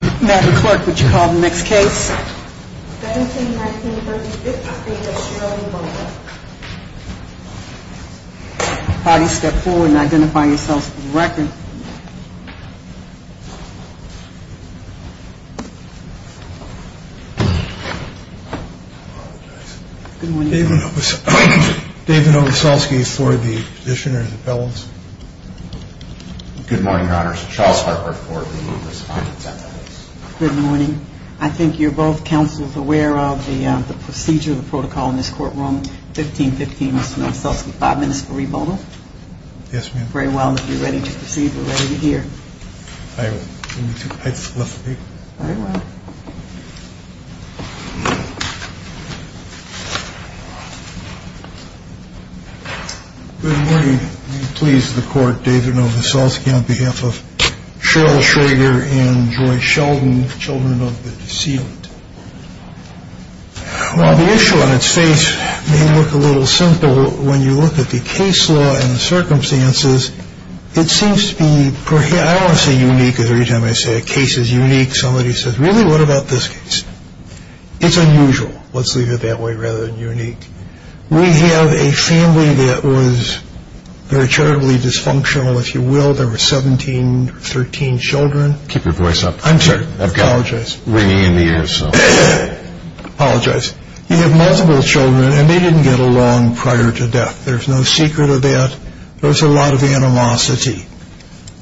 Madam Clerk, would you call the next case? 17-19-35, the state of Sherrod, Illinois. Body, step forward and identify yourself for the record. Good morning. David Ogasalski for the petitioner and the felons. Good morning, Your Honors. Charles Harper for the respondent. Good morning. I think you're both counsels aware of the procedure, the protocol in this courtroom. 15-15, Mr. Ogasalski. Five minutes for rebuttal. Yes, ma'am. Very well. If you're ready to proceed, we're ready to hear. I would love to be. Very well. Good morning. Please, the court, David Ogasalski on behalf of Cheryl Schroeder and George Sheldon, children of the deceit. While the issue on its face may look a little simple, when you look at the case law and the circumstances, it seems to be, I don't want to say unique, because every time I say a case is unique, somebody says, really, what about this case? It's unusual. Let's leave it that way, rather than unique. We have a family that was very charitably dysfunctional, if you will. There were 17, 13 children. Keep your voice up. I'm sorry. I apologize. I've got ringing in the ears, so. I apologize. You have multiple children, and they didn't get along prior to death. There's no secret of that. There was a lot of animosity.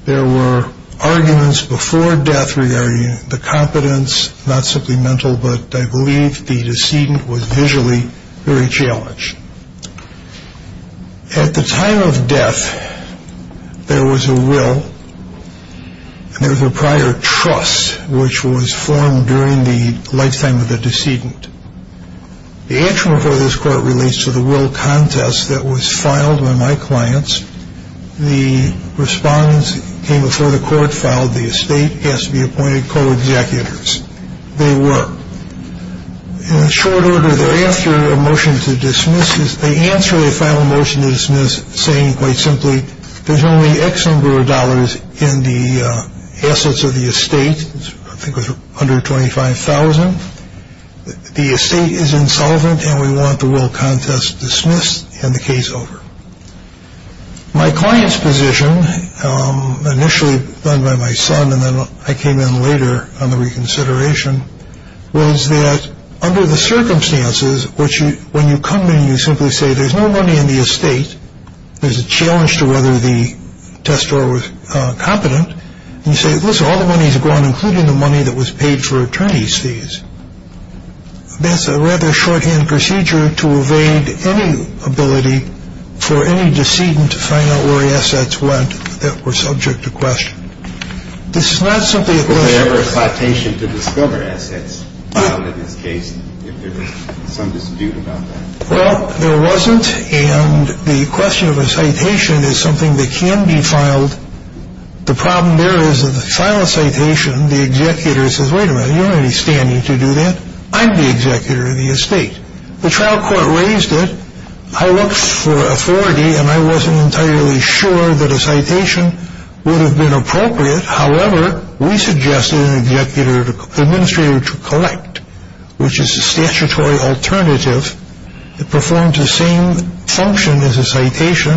There were arguments before death regarding the competence, not simply mental, but I believe the decedent was visually very challenged. At the time of death, there was a will, and there was a prior trust, which was formed during the lifetime of the decedent. The answer before this court relates to the will contest that was filed by my clients. The respondents came before the court, filed the estate, asked to be appointed co-executors. They were. In short order, they're answering a motion to dismiss. They answer a final motion to dismiss saying, quite simply, there's only X number of dollars in the assets of the estate, I think it was under $25,000. The estate is insolvent, and we want the will contest dismissed and the case over. My client's position, initially done by my son, and then I came in later on the reconsideration, was that under the circumstances, which when you come in, you simply say there's no money in the estate. There's a challenge to whether the test drawer was competent. And you say, listen, all the money's gone, including the money that was paid for attorney's fees. That's a rather shorthand procedure to evade any ability for any decedent to find out where the assets went that were subject to question. This is not simply a question. Was there ever a citation to discover assets filed in this case, if there was some dispute about that? Well, there wasn't, and the question of a citation is something that can be filed. The problem there is that the final citation, the executor says, wait a minute, you don't have any standing to do that. I'm the executor of the estate. The trial court raised it. I looked for authority, and I wasn't entirely sure that a citation would have been appropriate. However, we suggested an executor, administrator to collect, which is a statutory alternative. It performed the same function as a citation,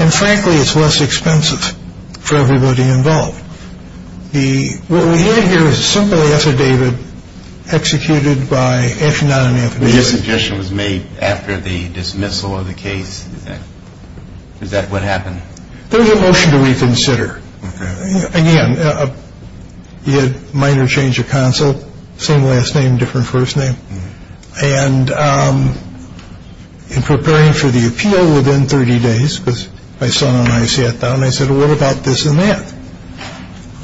and frankly, it's less expensive for everybody involved. What we have here is a simple affidavit executed by an affidavit. But your suggestion was made after the dismissal of the case? Is that what happened? There was a motion to reconsider. Again, you had a minor change of counsel, same last name, different first name. And in preparing for the appeal within 30 days, because my son and I sat down, I said, well, what about this and that?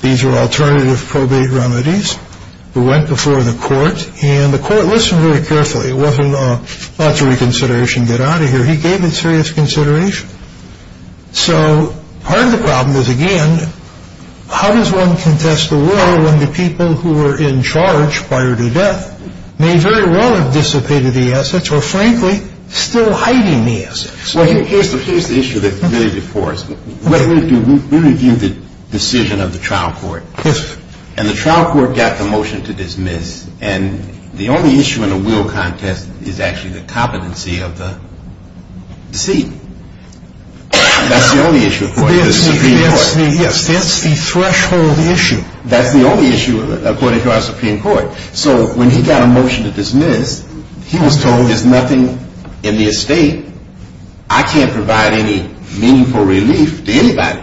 These were alternative probate remedies. We went before the court, and the court listened very carefully. It wasn't, oh, that's a reconsideration, get out of here. He gave it serious consideration. So part of the problem is, again, how does one contest a will when the people who were in charge prior to death may very well have dissipated the assets or, frankly, still hiding the assets? Well, here's the issue that's really before us. We reviewed the decision of the trial court. Yes, sir. And the trial court got the motion to dismiss, and the only issue in a will contest is actually the competency of the seat. That's the only issue according to the Supreme Court. That's the threshold issue. That's the only issue according to our Supreme Court. So when he got a motion to dismiss, he was told there's nothing in the estate. I can't provide any meaningful relief to anybody.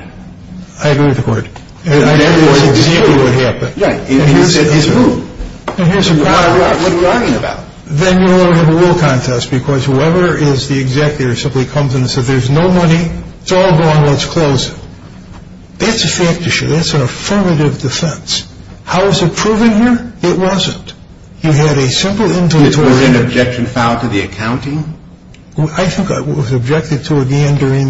I agree with the court. And that was exactly what happened. Right. And here's the problem. What are we talking about? Then you don't have a will contest because whoever is the executor simply comes in and says, there's no money, it's all gone, let's close it. That's a fact issue. That's an affirmative defense. How is it proven here? It wasn't. You had a simple inventory. I think it was objected to again during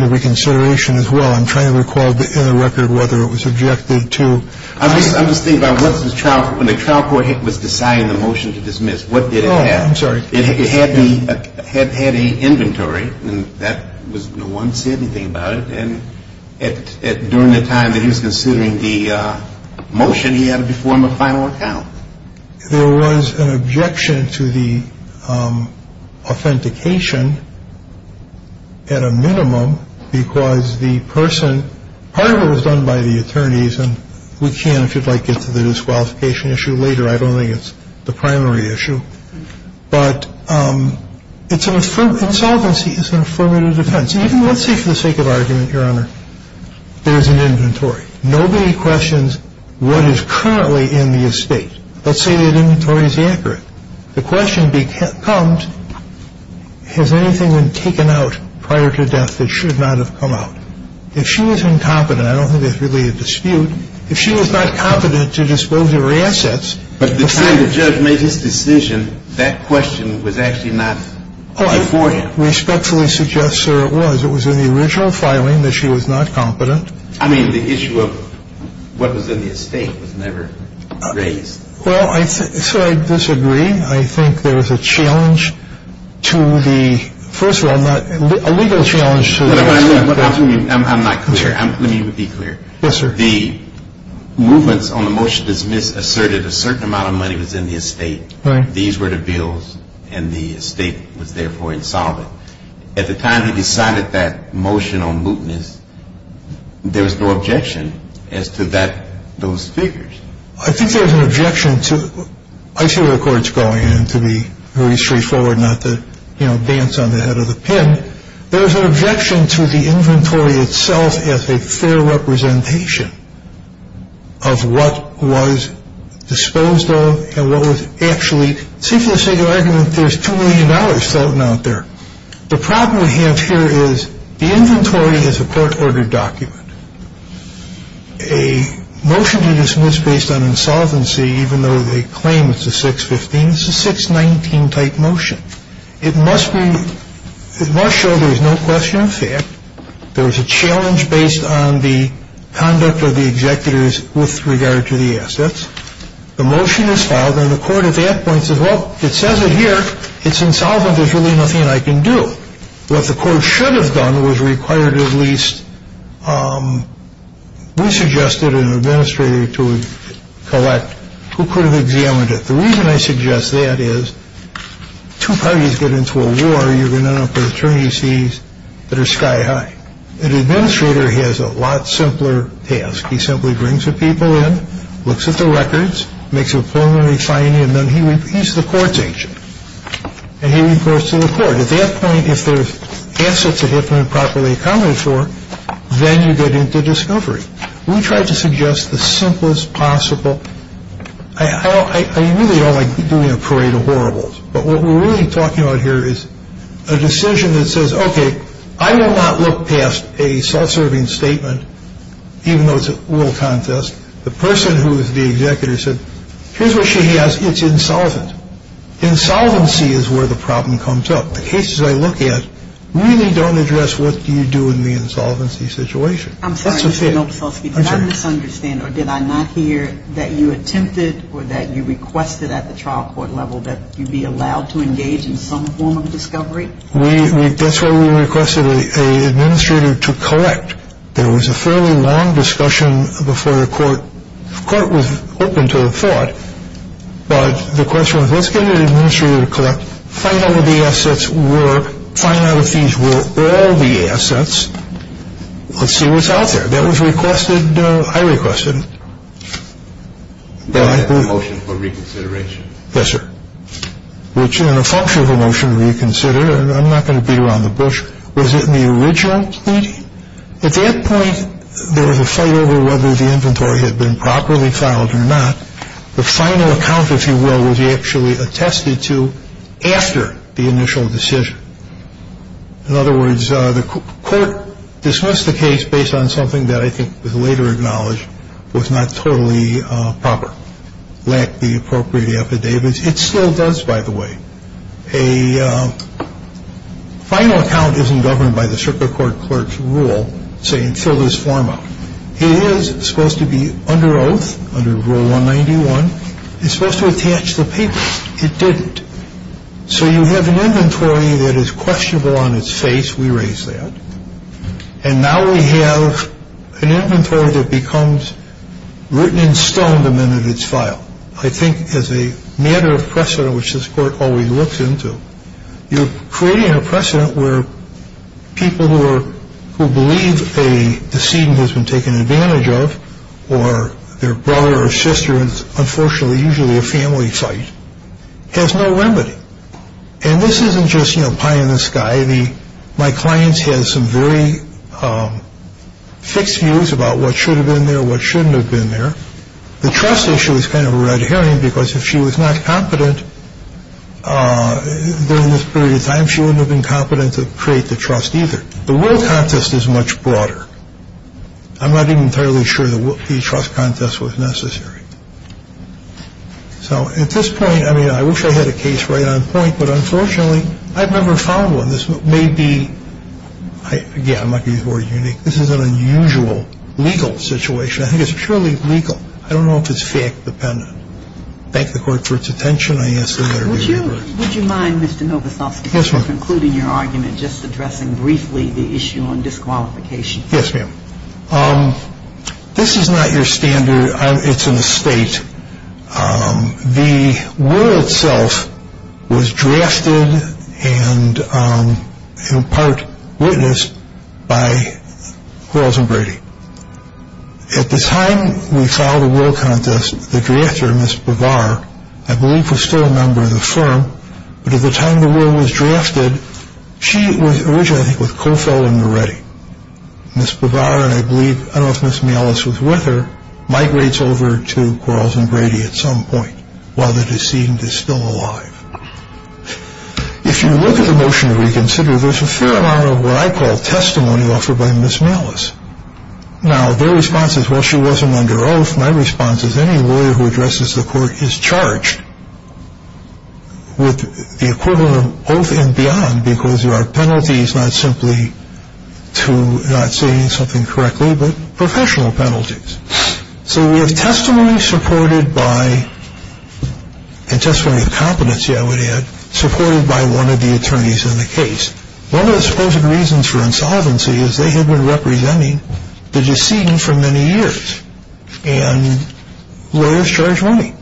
the reconsideration as well. I'm trying to recall in the record whether it was objected to. I'm just thinking about when the trial court was deciding the motion to dismiss, what did it have? Oh, I'm sorry. It had a inventory, and no one said anything about it. And during the time that he was considering the motion, he had to perform a final account. There was an objection to the authentication at a minimum because the person, part of it was done by the attorneys, and we can, if you'd like, get to the disqualification issue later. I don't think it's the primary issue. But it's an affirmative, insolvency is an affirmative defense. Even let's say for the sake of argument, Your Honor, there's an inventory. Nobody questions what is currently in the estate. Let's say that inventory is accurate. The question comes, has anything been taken out prior to death that should not have come out? If she was incompetent, I don't think there's really a dispute. If she was not competent to dispose of her assets. But the time the judge made his decision, that question was actually not before him. I respectfully suggest, sir, it was. It was in the original filing that she was not competent. I mean, the issue of what was in the estate was never raised. Well, so I disagree. I think there was a challenge to the, first of all, a legal challenge to the estate. I'm not clear. Let me be clear. Yes, sir. The movements on the motion dismissed asserted a certain amount of money was in the estate. Right. These were the bills, and the estate was therefore insolvent. At the time he decided that motion on mootness, there was no objection as to that, those figures. I think there was an objection to, I see where the court's going, and to be very straightforward, not to, you know, dance on the head of the pen. There was an objection to the inventory itself as a fair representation of what was disposed of and what was actually, see for the sake of argument, there's $2 million floating out there. The problem we have here is the inventory is a court-ordered document. A motion to dismiss based on insolvency, even though they claim it's a 615, it's a 619-type motion. It must show there is no question of fact. There is a challenge based on the conduct of the executors with regard to the assets. The motion is filed, and the court at that point says, well, it says it here. It's insolvent. There's really nothing I can do. What the court should have done was required at least, we suggested an administrator to collect who could have examined it. The reason I suggest that is two parties get into a war, you're going to end up with attorneys fees that are sky high. An administrator has a lot simpler task. He simply brings the people in, looks at the records, makes a preliminary finding, and then he's the court's agent. And he reports to the court. At that point, if there's assets that have been improperly accounted for, then you get into discovery. We tried to suggest the simplest possible. I really don't like doing a parade of horribles, but what we're really talking about here is a decision that says, okay, I will not look past a self-serving statement, even though it's a little contest. The person who is the executor said, here's what she has. It's insolvent. Insolvency is where the problem comes up. The cases I look at really don't address what you do in the insolvency situation. I'm sorry, Mr. Novoselsky. Did I misunderstand or did I not hear that you attempted or that you requested at the trial court level that you be allowed to engage in some form of discovery? That's why we requested an administrator to collect. There was a fairly long discussion before the court. The court was open to the thought, but the question was, let's get an administrator to collect, find out what the assets were, find out if these were all the assets. Let's see what's out there. That was requested. I requested it. Motion for reconsideration. Yes, sir. Which in a function of a motion to reconsider, and I'm not going to beat around the bush, was in the original pleading. At that point, there was a fight over whether the inventory had been properly filed or not. The final account, if you will, was actually attested to after the initial decision. In other words, the court dismissed the case based on something that I think was later acknowledged was not totally proper, lacked the appropriate affidavits. It still does, by the way. A final account isn't governed by the circuit court clerk's rule saying fill this form up. It is supposed to be under oath, under rule 191. It's supposed to attach the papers. It didn't. So you have an inventory that is questionable on its face. We raise that. And now we have an inventory that becomes written in stone the minute it's filed. Now, I think as a matter of precedent, which this court always looks into, you're creating a precedent where people who believe a decedent has been taken advantage of, or their brother or sister is unfortunately usually a family fight, has no remedy. And this isn't just, you know, pie in the sky. My clients had some very fixed views about what should have been there, what shouldn't have been there. The trust issue is kind of a red herring because if she was not competent during this period of time, she wouldn't have been competent to create the trust either. The world contest is much broader. I'm not even entirely sure the trust contest was necessary. So at this point, I mean, I wish I had a case right on point. But unfortunately, I've never found one. This may be, again, might be more unique. This is an unusual legal situation. I think it's surely legal. I don't know if it's fact-dependent. Thank the court for its attention. I ask the matter to be heard. Would you mind, Mr. Novosofsky, Yes, ma'am. Concluding your argument, just addressing briefly the issue on disqualification. Yes, ma'am. This is not your standard. It's an estate. The will itself was drafted and in part witnessed by Quarles and Brady. At the time we filed a will contest, the drafter, Ms. Bavar, I believe, was still a member of the firm. But at the time the will was drafted, she was originally with Kohfeldt and Moretti. Ms. Bavar, and I believe, I don't know if Ms. Malis was with her, migrates over to Quarles and Brady at some point while the decedent is still alive. If you look at the motion to reconsider, there's a fair amount of what I call testimony offered by Ms. Malis. Now, their response is, well, she wasn't under oath. My response is any lawyer who addresses the court is charged with the equivalent of oath and beyond because there are penalties not simply to not saying something correctly but professional penalties. So we have testimony supported by, and testimony of competency I would add, supported by one of the attorneys in the case. One of the supposed reasons for insolvency is they had been representing the decedent for many years. And lawyers charge money.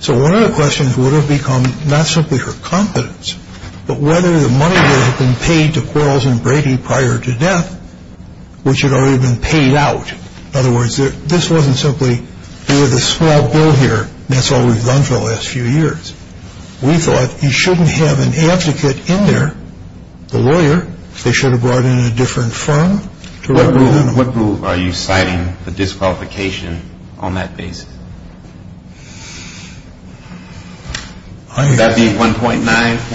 So one of the questions would have become not simply her competence but whether the money would have been paid to Quarles and Brady prior to death, which had already been paid out. In other words, this wasn't simply, there was a small bill here, and that's all we've done for the last few years. We thought you shouldn't have an advocate in there, the lawyer. They should have brought in a different firm. What rule are you citing for disqualification on that basis? Would that be 1.9?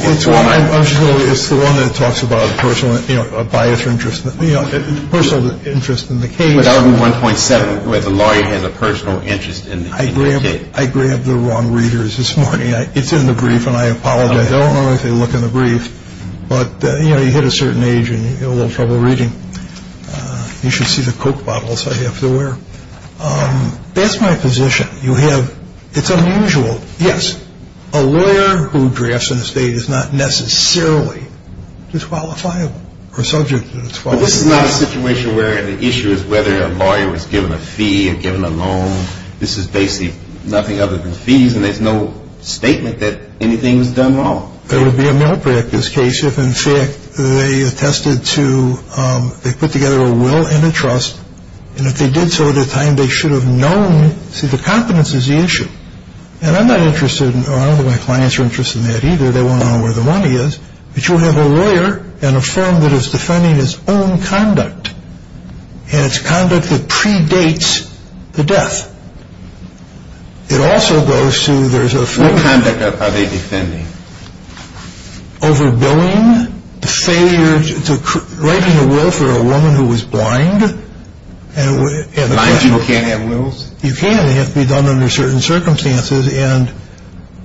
It's the one that talks about a personal bias or interest in the case. But that would be 1.7 where the lawyer has a personal interest in the case. I grabbed the wrong readers this morning. It's in the brief and I apologize. I don't know if they look in the brief. But you hit a certain age and you get a little trouble reading. You should see the Coke bottles I have to wear. That's my position. It's unusual. Yes, a lawyer who drafts an estate is not necessarily disqualifiable or subject to disqualification. But this is not a situation where the issue is whether a lawyer was given a fee or given a loan. This is basically nothing other than fees, and there's no statement that anything was done wrong. There would be a malpractice case if, in fact, they put together a will and a trust, and if they did so at the time, they should have known. See, the competence is the issue. And I'm not interested, or I don't know if my clients are interested in that either. They want to know where the money is. But you have a lawyer and a firm that is defending its own conduct and its conduct that predates the death. It also goes to there's a firm. What conduct are they defending? Overbilling, writing a will for a woman who was blind. Blind people can't have wills? You can. They have to be done under certain circumstances, and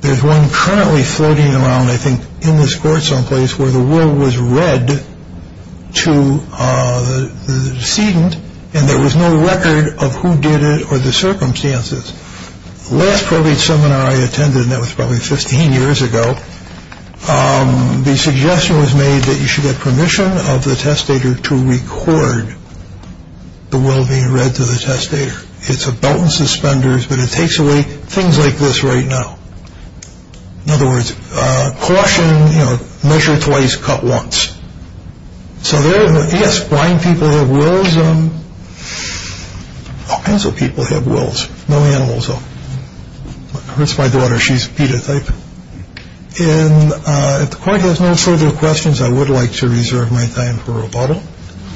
there's one currently floating around, I think, in this court someplace, where the will was read to the decedent, and there was no record of who did it or the circumstances. The last probate seminar I attended, and that was probably 15 years ago, the suggestion was made that you should get permission of the testator to record the will being read to the testator. It's a belt and suspenders, but it takes away things like this right now. In other words, caution, measure twice, cut once. So, yes, blind people have wills. All kinds of people have wills. No animals, though. That's my daughter. She's a pedotype. And if the court has no further questions, I would like to reserve my time for rebuttal.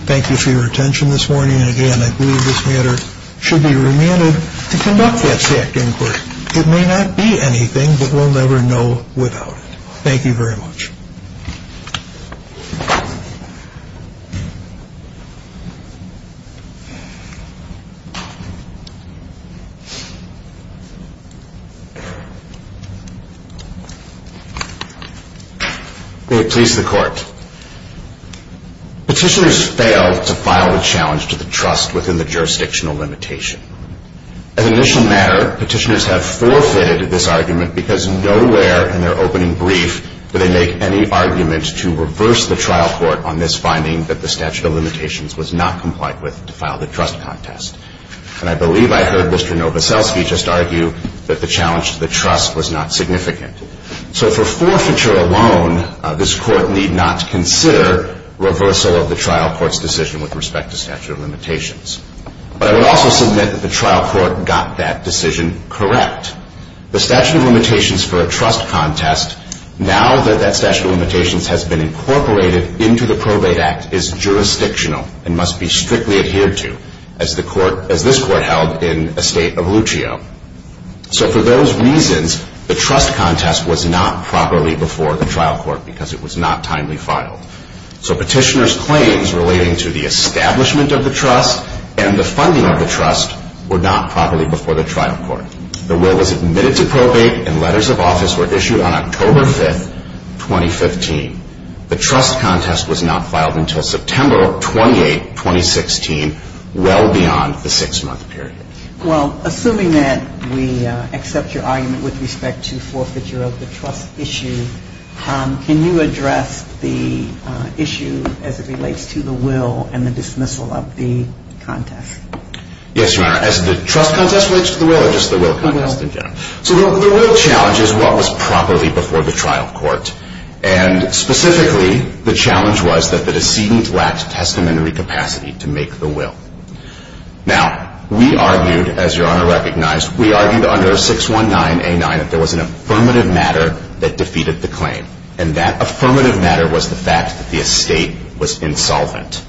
Thank you for your attention this morning, and, again, I believe this matter should be remanded to conduct that SAC inquiry. It may not be anything, but we'll never know without it. Thank you very much. May it please the Court. Petitioners failed to file a challenge to the trust within the jurisdictional limitation. As an initial matter, petitioners have forfeited this argument because nowhere in their opening brief do they make any argument to reverse the trial court on this finding that the statute of limitations was not compliant with to file the trust contest. And I believe I heard Mr. Novoselsky just argue that the challenge to the trust was not significant. So for forfeiture alone, this court need not consider reversal of the trial court's decision with respect to statute of limitations. But I would also submit that the trial court got that decision correct. The statute of limitations for a trust contest, now that that statute of limitations has been incorporated into the probate act, is jurisdictional and must be strictly adhered to, as this court held in a state of Lucio. So for those reasons, the trust contest was not properly before the trial court because it was not timely filed. So petitioners' claims relating to the establishment of the trust and the funding of the trust were not properly before the trial court. The will was admitted to probate and letters of office were issued on October 5, 2015. The trust contest was not filed until September 28, 2016, well beyond the six-month period. Well, assuming that we accept your argument with respect to forfeiture of the trust issue, can you address the issue as it relates to the will and the dismissal of the contest? Yes, Your Honor. As the trust contest relates to the will or just the will contest in general? The will. So the will challenge is what was properly before the trial court. And specifically, the challenge was that the decedent lacked testamentary capacity to make the will. Now, we argued, as Your Honor recognized, we argued under 619A9 that there was an affirmative matter that defeated the claim. And that affirmative matter was the fact that the estate was insolvent.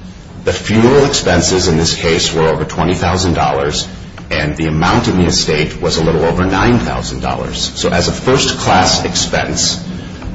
The funeral expenses in this case were over $20,000, and the amount in the estate was a little over $9,000. So as a first-class expense,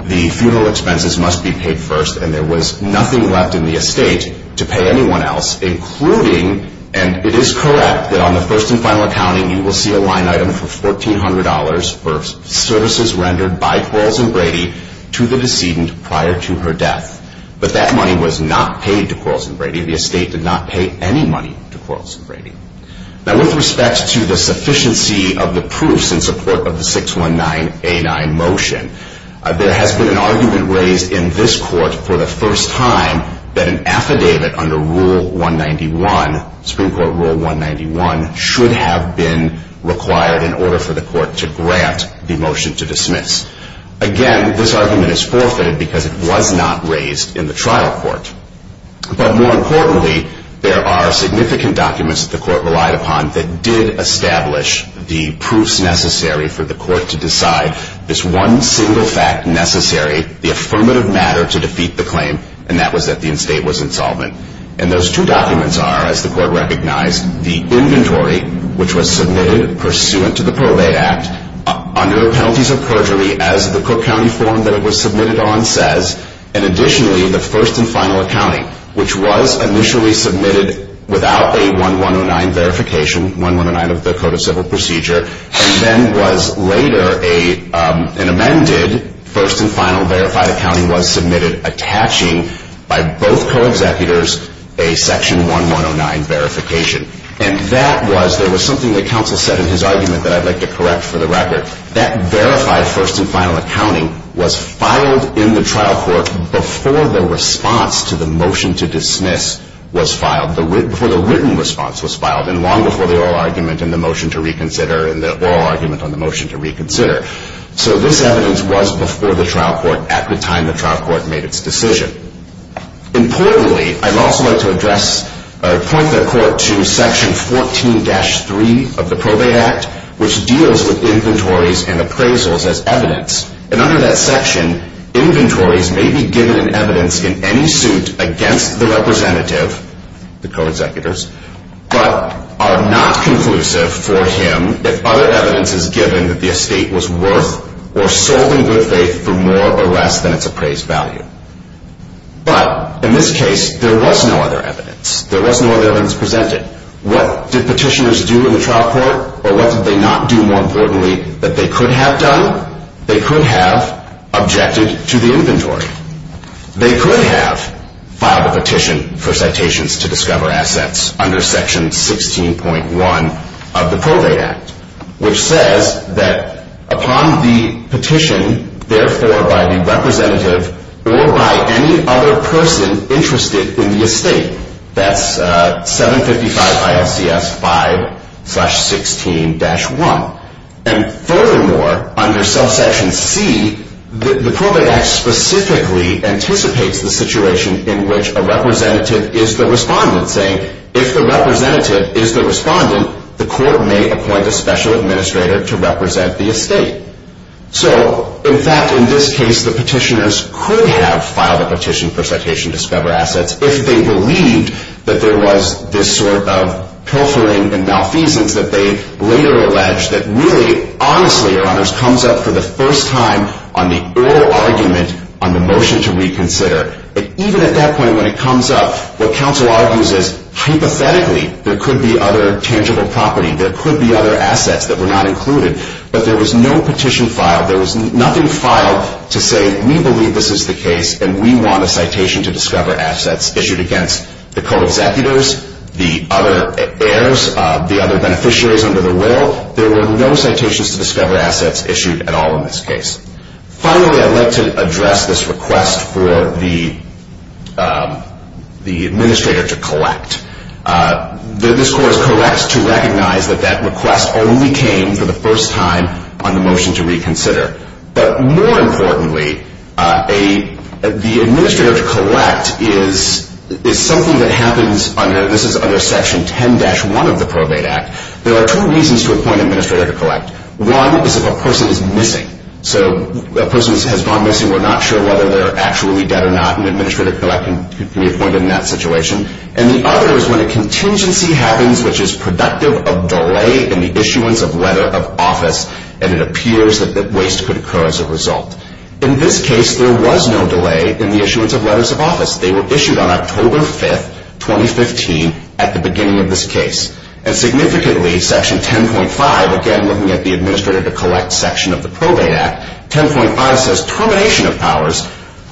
the funeral expenses must be paid first, and there was nothing left in the estate to pay anyone else, including, and it is correct that on the first and final accounting, you will see a line item for $1,400 for services rendered by Quarles and Brady to the decedent prior to her death. But that money was not paid to Quarles and Brady. The estate did not pay any money to Quarles and Brady. Now, with respect to the sufficiency of the proofs in support of the 619A9 motion, there has been an argument raised in this court for the first time that an affidavit under Rule 191, Supreme Court Rule 191, should have been required in order for the court to grant the motion to dismiss. Again, this argument is forfeited because it was not raised in the trial court. But more importantly, there are significant documents that the court relied upon that did establish the proofs necessary for the court to decide this one single fact necessary, the affirmative matter to defeat the claim, and that was that the estate was insolvent. And those two documents are, as the court recognized, the inventory, which was submitted pursuant to the Probate Act under the penalties of perjury, as the Cook County form that it was submitted on says, and additionally, the first and final accounting, which was initially submitted without a 1109 verification, 1109 of the Code of Civil Procedure, and then was later an amended first and final verified accounting was submitted attaching by both co-executors a Section 1109 verification. And that was, there was something that counsel said in his argument that I'd like to correct for the record, that verified first and final accounting was filed in the trial court before the response to the motion to dismiss was filed, before the written response was filed, and long before the oral argument and the motion to reconsider and the oral argument on the motion to reconsider. So this evidence was before the trial court at the time the trial court made its decision. Importantly, I'd also like to address or point the court to Section 14-3 of the Probate Act, which deals with inventories and appraisals as evidence. And under that section, inventories may be given in evidence in any suit against the representative, the co-executors, but are not conclusive for him if other evidence is given that the estate was worth or sold in good faith for more or less than its appraised value. But in this case, there was no other evidence. There was no other evidence presented. What did petitioners do in the trial court? Or what did they not do, more importantly, that they could have done? They could have objected to the inventory. They could have filed a petition for citations to discover assets under Section 16.1 of the Probate Act, which says that upon the petition, therefore, by the representative or by any other person interested in the estate, that's 755 ILCS 5-16-1. And furthermore, under Section C, the Probate Act specifically anticipates the situation in which a representative is the respondent, saying, if the representative is the respondent, the court may appoint a special administrator to represent the estate. So, in fact, in this case, the petitioners could have filed a petition for citation to discover assets if they believed that there was this sort of pilfering and malfeasance that they later alleged that really, honestly, Your Honors, comes up for the first time on the oral argument on the motion to reconsider. And even at that point, when it comes up, what counsel argues is, hypothetically, there could be other tangible property. There could be other assets that were not included. But there was no petition filed. There was nothing filed to say we believe this is the case and we want a citation to discover assets issued against the co-executors, the other heirs, the other beneficiaries under the will. There were no citations to discover assets issued at all in this case. Finally, I'd like to address this request for the administrator to collect. This court is correct to recognize that that request only came for the first time on the motion to reconsider. But more importantly, the administrator to collect is something that happens under section 10-1 of the Probate Act. There are two reasons to appoint an administrator to collect. One is if a person is missing. So a person has gone missing. We're not sure whether they're actually dead or not. An administrator to collect can be appointed in that situation. And the other is when a contingency happens which is productive of delay in the issuance of letter of office and it appears that waste could occur as a result. In this case, there was no delay in the issuance of letters of office. They were issued on October 5, 2015, at the beginning of this case. And significantly, section 10.5, again looking at the administrator to collect section of the Probate Act, 10.5 says termination of powers.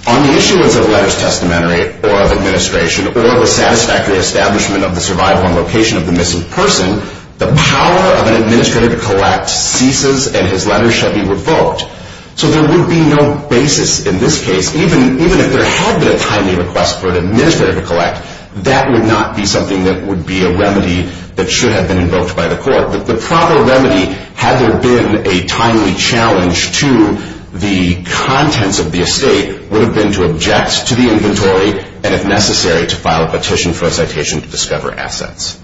On the issuance of letters of testamentary or of administration or the satisfactory establishment of the survival and location of the missing person, the power of an administrator to collect ceases and his letters shall be revoked. So there would be no basis in this case. Even if there had been a timely request for an administrator to collect, that would not be something that would be a remedy that should have been invoked by the court. The proper remedy, had there been a timely challenge to the contents of the estate, would have been to object to the inventory and, if necessary, to file a petition for a citation to discover assets.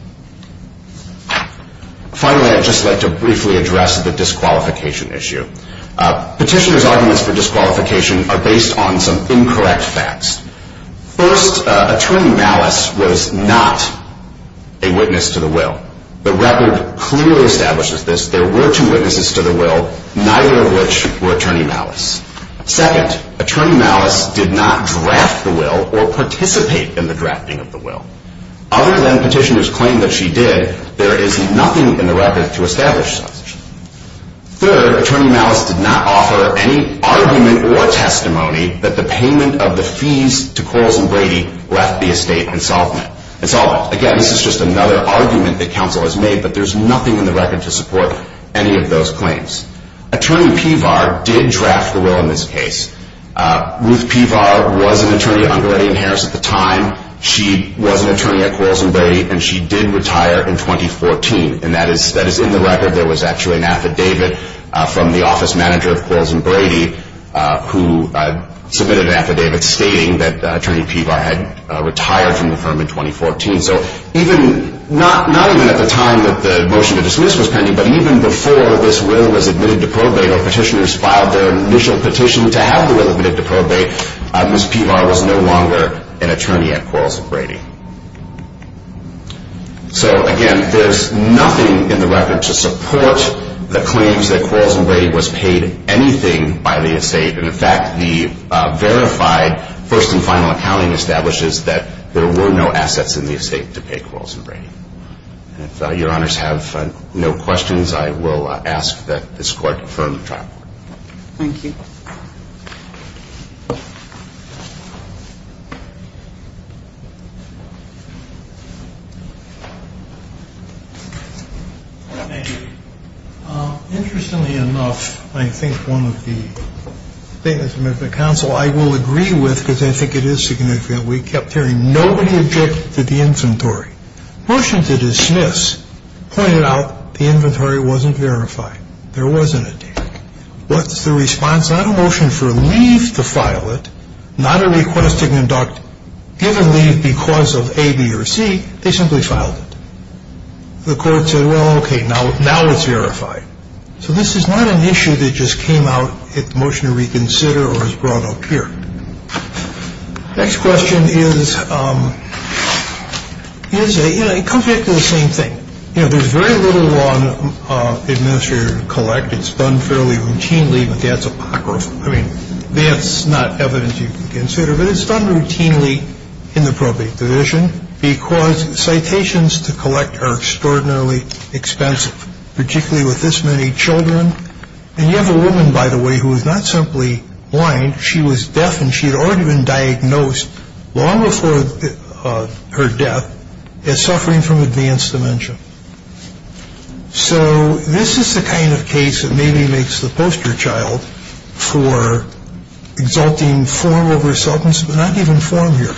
Finally, I'd just like to briefly address the disqualification issue. Petitioners' arguments for disqualification are based on some incorrect facts. First, Attorney Malice was not a witness to the will. The record clearly establishes this. There were two witnesses to the will, neither of which were Attorney Malice. Second, Attorney Malice did not draft the will or participate in the drafting of the will. Other than petitioners' claim that she did, there is nothing in the record to establish such. Third, Attorney Malice did not offer any argument or testimony that the payment of the fees to Quarles and Brady left the estate insolvent. Again, this is just another argument that counsel has made, but there's nothing in the record to support any of those claims. Attorney Pevar did draft the will in this case. Ruth Pevar was an attorney under Eddie and Harris at the time. She was an attorney at Quarles and Brady, and she did retire in 2014. And that is in the record. There was actually an affidavit from the office manager of Quarles and Brady who submitted an affidavit stating that Attorney Pevar had retired from the firm in 2014. So not even at the time that the motion to dismiss was pending, but even before this will was admitted to probate or petitioners filed their initial petition to have the will admitted to probate, Ms. Pevar was no longer an attorney at Quarles and Brady. So, again, there's nothing in the record to support the claims that Quarles and Brady was paid anything by the estate. And, in fact, the verified first and final accounting establishes that there were no assets in the estate to pay Quarles and Brady. If Your Honors have no questions, I will ask that this Court confirm the trial. Thank you. Thank you. Interestingly enough, I think one of the statements from the counsel I will agree with, because I think it is significant. We kept hearing, nobody objected to the inventory. Motion to dismiss pointed out the inventory wasn't verified. There wasn't a date. What's the response? Not a motion for leave to file it, not a request to conduct, but given leave because of A, B, or C, they simply filed it. The Court said, well, okay, now it's verified. So this is not an issue that just came out at the motion to reconsider or was brought up here. Next question is, it comes back to the same thing. There's very little law in the administrative collect. It's done fairly routinely, but that's apocryphal. I mean, that's not evidence you can consider, but it's done routinely in the probate division because citations to collect are extraordinarily expensive, particularly with this many children. And you have a woman, by the way, who is not simply blind. She was deaf, and she had already been diagnosed long before her death as suffering from advanced dementia. So this is the kind of case that maybe makes the poster child for exalting form over substance, but not even form here.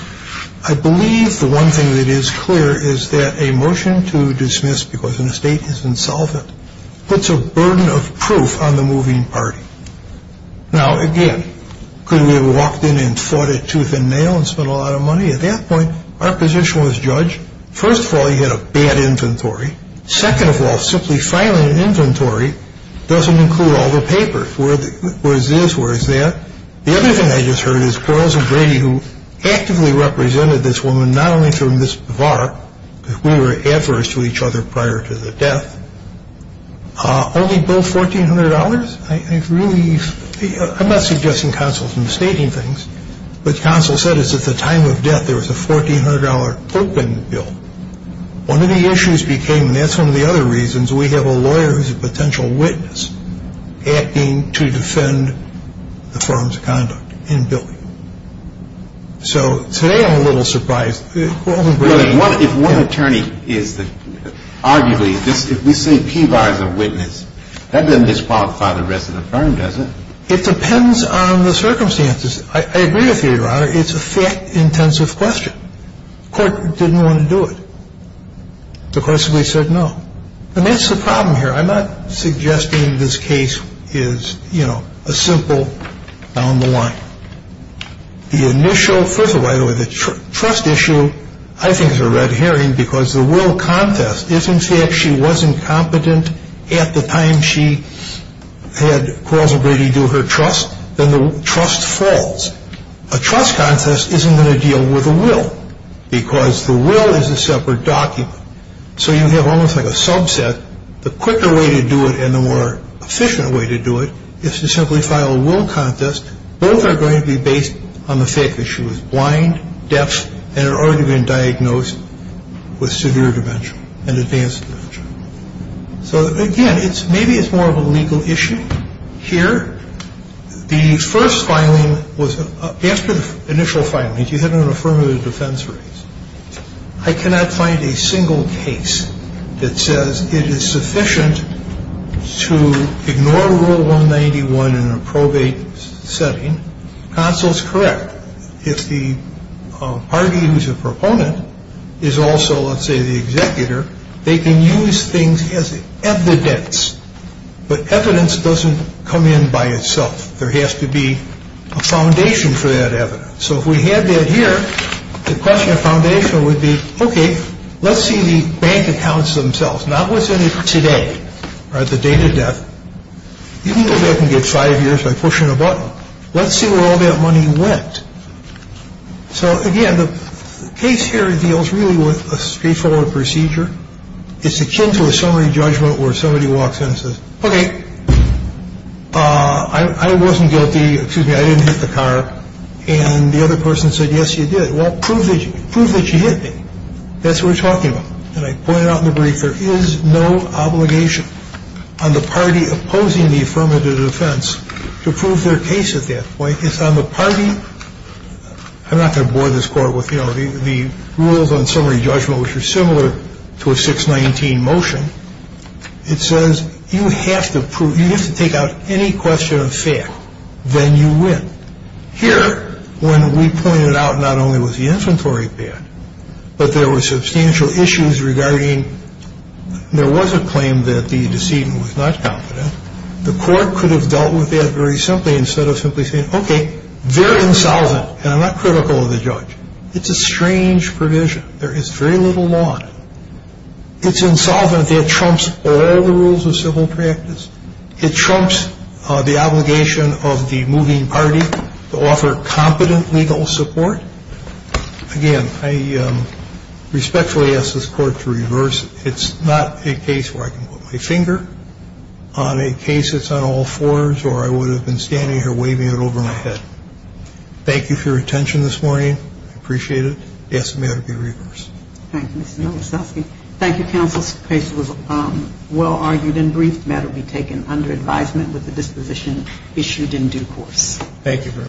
I believe the one thing that is clear is that a motion to dismiss because an estate has been solvent puts a burden of proof on the moving party. Now, again, could we have walked in and fought it tooth and nail and spent a lot of money? At that point, our position was judged. First of all, you had a bad inventory. Second of all, simply filing an inventory doesn't include all the papers. Where is this? Where is that? The other thing I just heard is Quarles and Brady, who actively represented this woman, not only through Ms. Bavar, because we were adverse to each other prior to the death, only billed $1,400? I'm not suggesting counsel is mistaking things, but counsel said it's at the time of death there was a $1,400 token bill. One of the issues became, and that's one of the other reasons, we have a lawyer who's a potential witness acting to defend the firm's conduct in billing. So today I'm a little surprised. If one attorney is, arguably, if we say P. Bar is a witness, that doesn't disqualify the rest of the firm, does it? It depends on the circumstances. I agree with you, Your Honor. It's a fact-intensive question. The court didn't want to do it. The court simply said no. And that's the problem here. I'm not suggesting this case is, you know, a simple down the line. The initial, first of all, the trust issue I think is a red herring because the will contest is, in fact, she wasn't competent at the time she had caused Brady to do her trust. Then the trust falls. A trust contest isn't going to deal with a will because the will is a separate document. So you have almost like a subset. The quicker way to do it and the more efficient way to do it is to simply file a will contest. Both are going to be based on the fact that she was blind, deaf, and had already been diagnosed with severe dementia and advanced dementia. So, again, maybe it's more of a legal issue here. The first filing was after the initial filing. You had an affirmative defense raised. I cannot find a single case that says it is sufficient to ignore Rule 191 in a probate setting. Counsel's correct. If the party who's a proponent is also, let's say, the executor, they can use things as evidence. But evidence doesn't come in by itself. There has to be a foundation for that evidence. So if we had that here, the question of foundation would be, OK, let's see the bank accounts themselves, not what's in it today or the date of death. You can go back and get five years by pushing a button. Let's see where all that money went. So, again, the case here deals really with a straightforward procedure. It's akin to a summary judgment where somebody walks in and says, OK, I wasn't guilty. Excuse me, I didn't hit the car. And the other person said, yes, you did. Well, prove that you hit me. That's what we're talking about. And I pointed out in the brief there is no obligation on the party opposing the affirmative defense to prove their case at that point. It's on the party. I'm not going to bore this Court with, you know, the rules on summary judgment, which are similar to a 619 motion. It says you have to prove, you have to take out any question of fact. Then you win. Here, when we pointed out not only was the inventory bad, but there were substantial issues regarding, there was a claim that the decedent was not confident. The Court could have dealt with that very simply instead of simply saying, OK, very insolvent, and I'm not critical of the judge. It's a strange provision. There is very little law on it. It's insolvent. It trumps all the rules of civil practice. It trumps the obligation of the moving party to offer competent legal support. Again, I respectfully ask this Court to reverse it. It's not a case where I can put my finger on a case that's on all fours or I would have been standing here waving it over my head. Thank you for your attention this morning. I appreciate it. Yes, the matter be reversed. Thank you, Mr. Nowakowski. Thank you, counsel. This case was well argued and briefed. The matter be taken under advisement with the disposition issued in due course. Thank you very much.